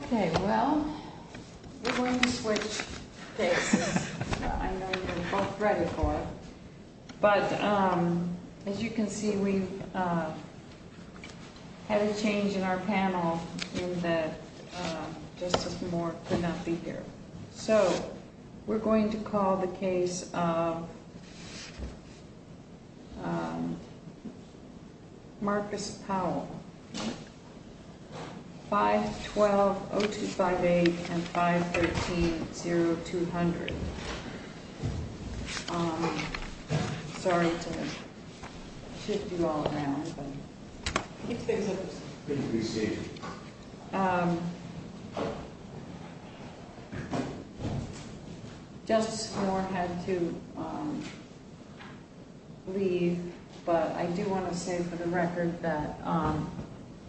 Okay, well, we're going to switch places. I know you're both ready for it, but as you can see, we've had a change in our panel in that Justice Moore could not be here. So we're going to call the case of Marcus Powell, 512-0258 and 513-0200. I'm sorry to shift you all around. Justice Moore had to leave, but I do want to say for the record that,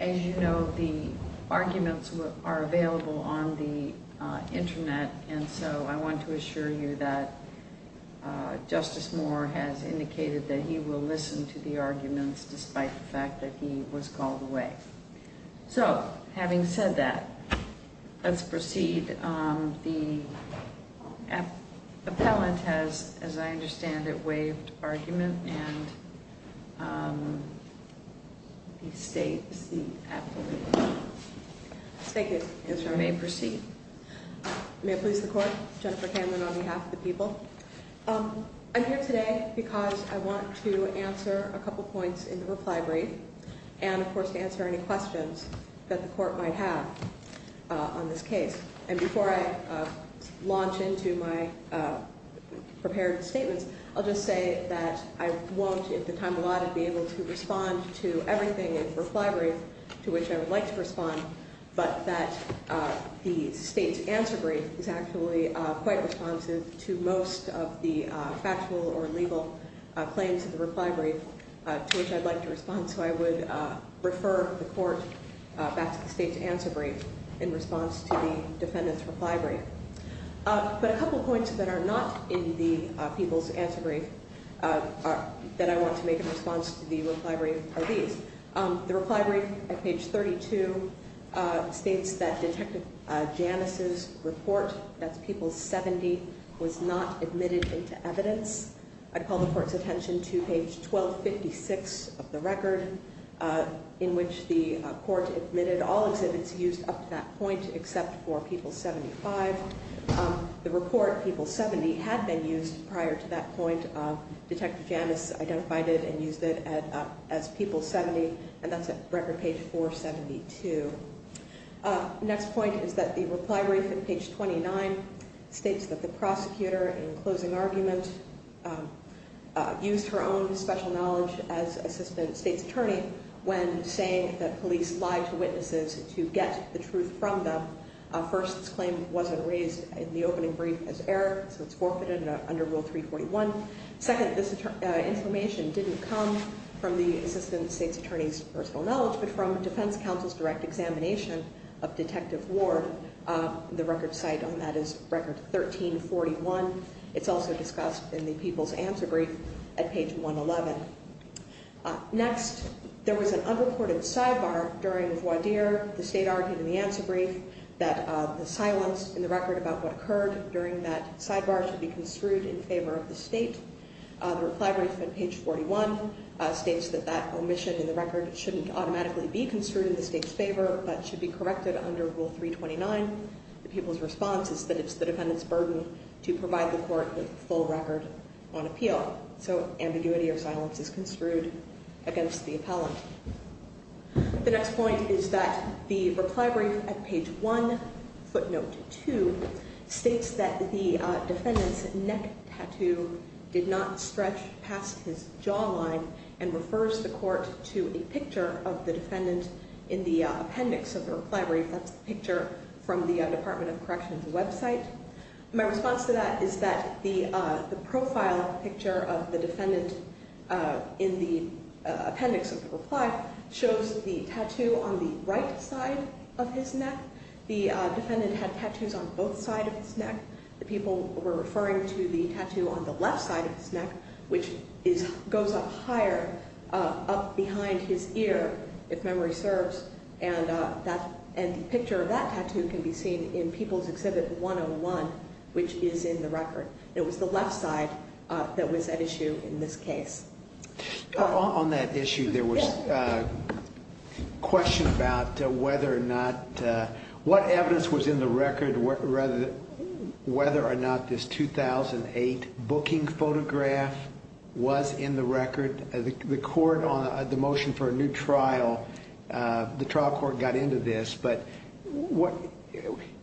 as you know, the arguments are available on the Internet. And so I want to assure you that Justice Moore has indicated that he will listen to the arguments, despite the fact that he was called away. So having said that, let's proceed. The appellant has, as I understand it, waived argument, and he states the affidavit. Thank you, Mr. Attorney. You may proceed. May I please the Court? Jennifer Hanlon on behalf of the people. I'm here today because I want to answer a couple points in the reply brief and, of course, to answer any questions that the Court might have on this case. And before I launch into my prepared statements, I'll just say that I won't, at the time allotted, be able to respond to everything in the reply brief to which I would like to respond, but that the State's answer brief is actually quite responsive to most of the factual or legal claims of the reply brief to which I'd like to respond. So I would refer the Court back to the State's answer brief in response to the defendant's reply brief. But a couple points that are not in the people's answer brief that I want to make in response to the reply brief are these. The reply brief at page 32 states that Detective Janus' report, that's people 70, was not admitted into evidence. I call the Court's attention to page 1256 of the record in which the Court admitted all exhibits used up to that point except for people 75. The report, people 70, had been used prior to that point. Detective Janus identified it and used it as people 70, and that's at record page 472. Next point is that the reply brief at page 29 states that the prosecutor in closing argument used her own special knowledge as Assistant State's Attorney when saying that police lie to witnesses to get the truth from them. First, this claim wasn't raised in the opening brief as error, so it's forfeited under Rule 341. Second, this information didn't come from the Assistant State's Attorney's personal knowledge, but from Defense Counsel's direct examination of Detective Ward. The record site on that is record 1341. It's also discussed in the people's answer brief at page 111. Next, there was an unreported sidebar during voir dire. The State argued in the answer brief that the silence in the record about what occurred during that sidebar should be construed in favor of the State. The reply brief at page 41 states that that omission in the record shouldn't automatically be construed in the State's favor, but should be corrected under Rule 329. The people's response is that it's the defendant's burden to provide the Court with the full record on appeal. So ambiguity or silence is construed against the appellant. The next point is that the reply brief at page 1, footnote 2, states that the defendant's neck tattoo did not stretch past his jawline and refers the Court to a picture of the defendant in the appendix of the reply brief. That's the picture from the Department of Correction's website. My response to that is that the profile picture of the defendant in the appendix of the reply shows the tattoo on the right side of his neck. The defendant had tattoos on both sides of his neck. The people were referring to the tattoo on the left side of his neck, which goes up higher, up behind his ear, if memory serves. And a picture of that tattoo can be seen in People's Exhibit 101, which is in the record. It was the left side that was at issue in this case. On that issue, there was a question about whether or not, what evidence was in the record, whether or not this 2008 booking photograph was in the record. The Court on the motion for a new trial, the trial court got into this. But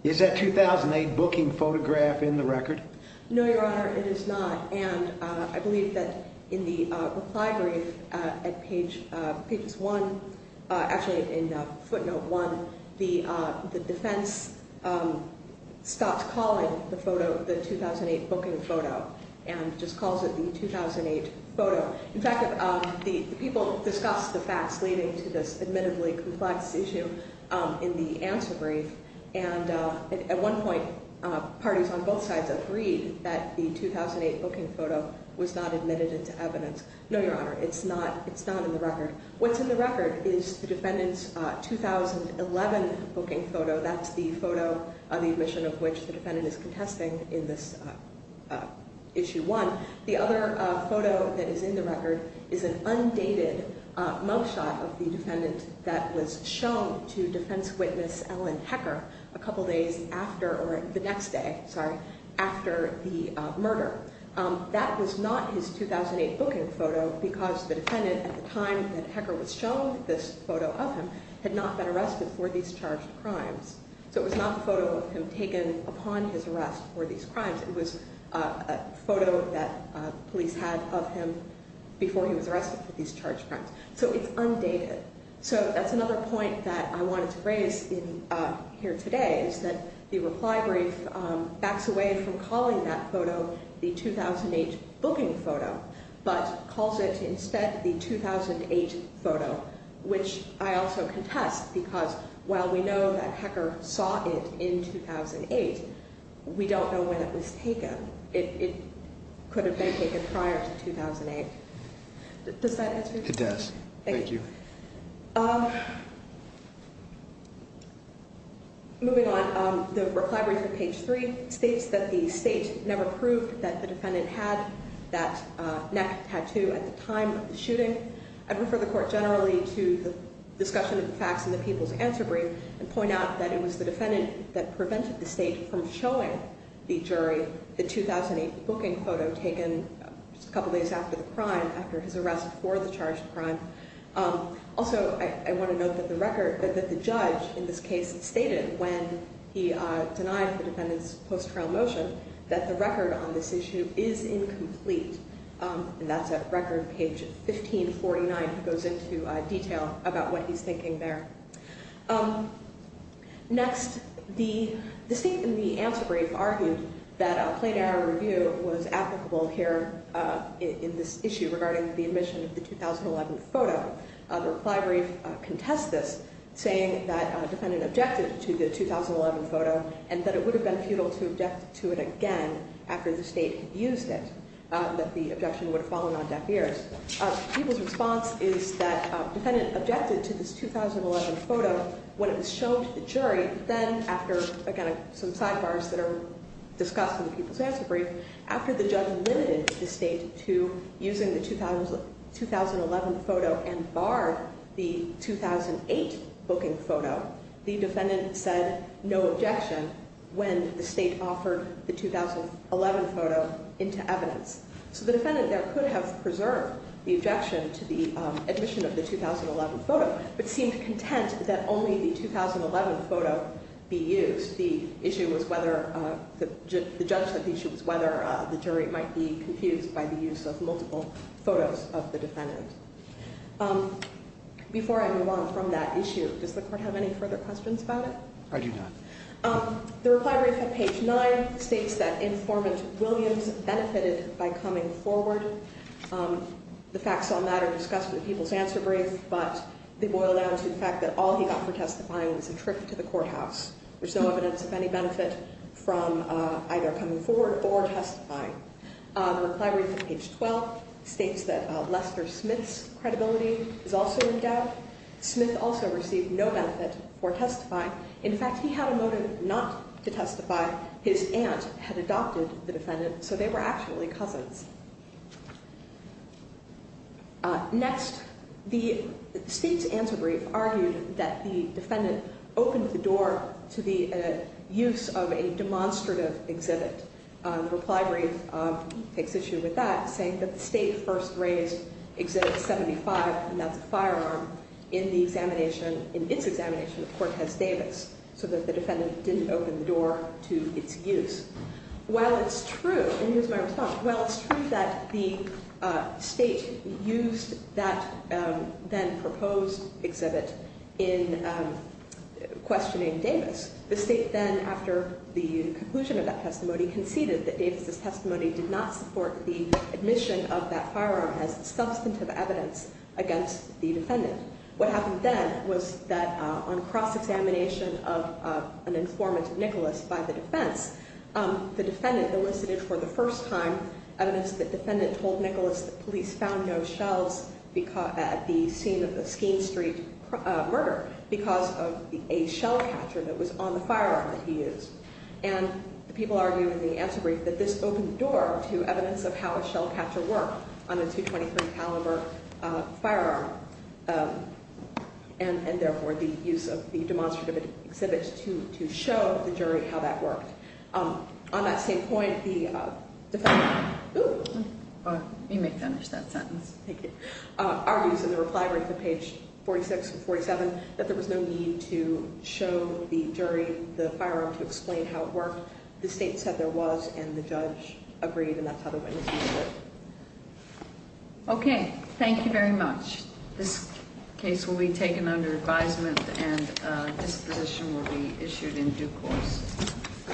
is that 2008 booking photograph in the record? No, Your Honor, it is not. And I believe that in the reply brief at page 1, actually in footnote 1, the defense stops calling the photo the 2008 booking photo and just calls it the 2008 photo. In fact, the people discussed the facts leading to this admittably complex issue in the answer brief. And at one point, parties on both sides agreed that the 2008 booking photo was not admitted into evidence. No, Your Honor, it's not. It's not in the record. What's in the record is the defendant's 2011 booking photo. That's the photo of the admission of which the defendant is contesting in this issue 1. The other photo that is in the record is an undated mugshot of the defendant that was shown to defense witness Ellen Hecker a couple days after or the next day, sorry, after the murder. That was not his 2008 booking photo because the defendant at the time that Hecker was shown this photo of him had not been arrested for these charged crimes. So it was not a photo of him taken upon his arrest for these crimes. It was a photo that police had of him before he was arrested for these charged crimes. So it's undated. So that's another point that I wanted to raise here today is that the reply brief backs away from calling that photo the 2008 booking photo but calls it instead the 2008 photo, which I also contest because while we know that Hecker saw it in 2008, we don't know when it was taken. It could have been taken prior to 2008. Does that answer your question? It does. Thank you. Moving on, the reply brief on page 3 states that the state never proved that the defendant had that neck tattoo at the time of the shooting. I'd refer the court generally to the discussion of the facts in the people's answer brief and point out that it was the defendant that prevented the state from showing the jury the 2008 booking photo taken just a couple days after the crime, after his arrest for the charged crime. Also, I want to note that the judge in this case stated when he denied the defendant's post-trial motion that the record on this issue is incomplete. And that's at record page 1549. It goes into detail about what he's thinking there. Next, the state in the answer brief argued that a plain error review was applicable here in this issue regarding the admission of the 2011 photo. The reply brief contests this, saying that a defendant objected to the 2011 photo and that it would have been futile to object to it again after the state had used it, that the objection would have fallen on deaf ears. People's response is that the defendant objected to this 2011 photo when it was shown to the jury. Then after, again, some sidebars that are discussed in the people's answer brief, after the judge limited the state to using the 2011 photo and barred the 2008 booking photo, the defendant said no objection when the state offered the 2011 photo into evidence. So the defendant there could have preserved the objection to the admission of the 2011 photo, but seemed content that only the 2011 photo be used. The issue was whether, the judgment issue was whether the jury might be confused by the use of multiple photos of the defendant. Before I move on from that issue, does the court have any further questions about it? I do not. The reply brief at page 9 states that informant Williams benefited by coming forward. The facts on that are discussed in the people's answer brief, but they boil down to the fact that all he got for testifying was a trip to the courthouse. There's no evidence of any benefit from either coming forward or testifying. The reply brief at page 12 states that Lester Smith's credibility is also in doubt. Smith also received no benefit for testifying. In fact, he had a motive not to testify. His aunt had adopted the defendant, so they were actually cousins. Next, the state's answer brief argued that the defendant opened the door to the use of a demonstrative exhibit. The reply brief takes issue with that, saying that the state first raised exhibit 75, and that's a firearm, in the examination, in its examination of Cortez Davis, so that the defendant didn't open the door to its use. While it's true, and here's my response, while it's true that the state used that then proposed exhibit in questioning Davis, the state then, after the conclusion of that testimony, conceded that Davis' testimony did not support the admission of that firearm as substantive evidence against the defendant. What happened then was that on cross-examination of an informant of Nicholas by the defense, the defendant elicited for the first time evidence that the defendant told Nicholas that police found no shells at the scene of the Skeene Street murder because of a shell catcher that was on the firearm that he used. And the people argue in the answer brief that this opened the door to evidence of how a shell catcher worked on a .223 caliber firearm, and therefore the use of the demonstrative exhibit to show the jury how that worked. On that same point, the defendant argues in the reply brief on page 46 and 47 that there was no need to show the jury the firearm to explain how it worked. The state said there was, and the judge agreed, and that's how the witnesses did it. Okay, thank you very much. This case will be taken under advisement, and this position will be issued in due course.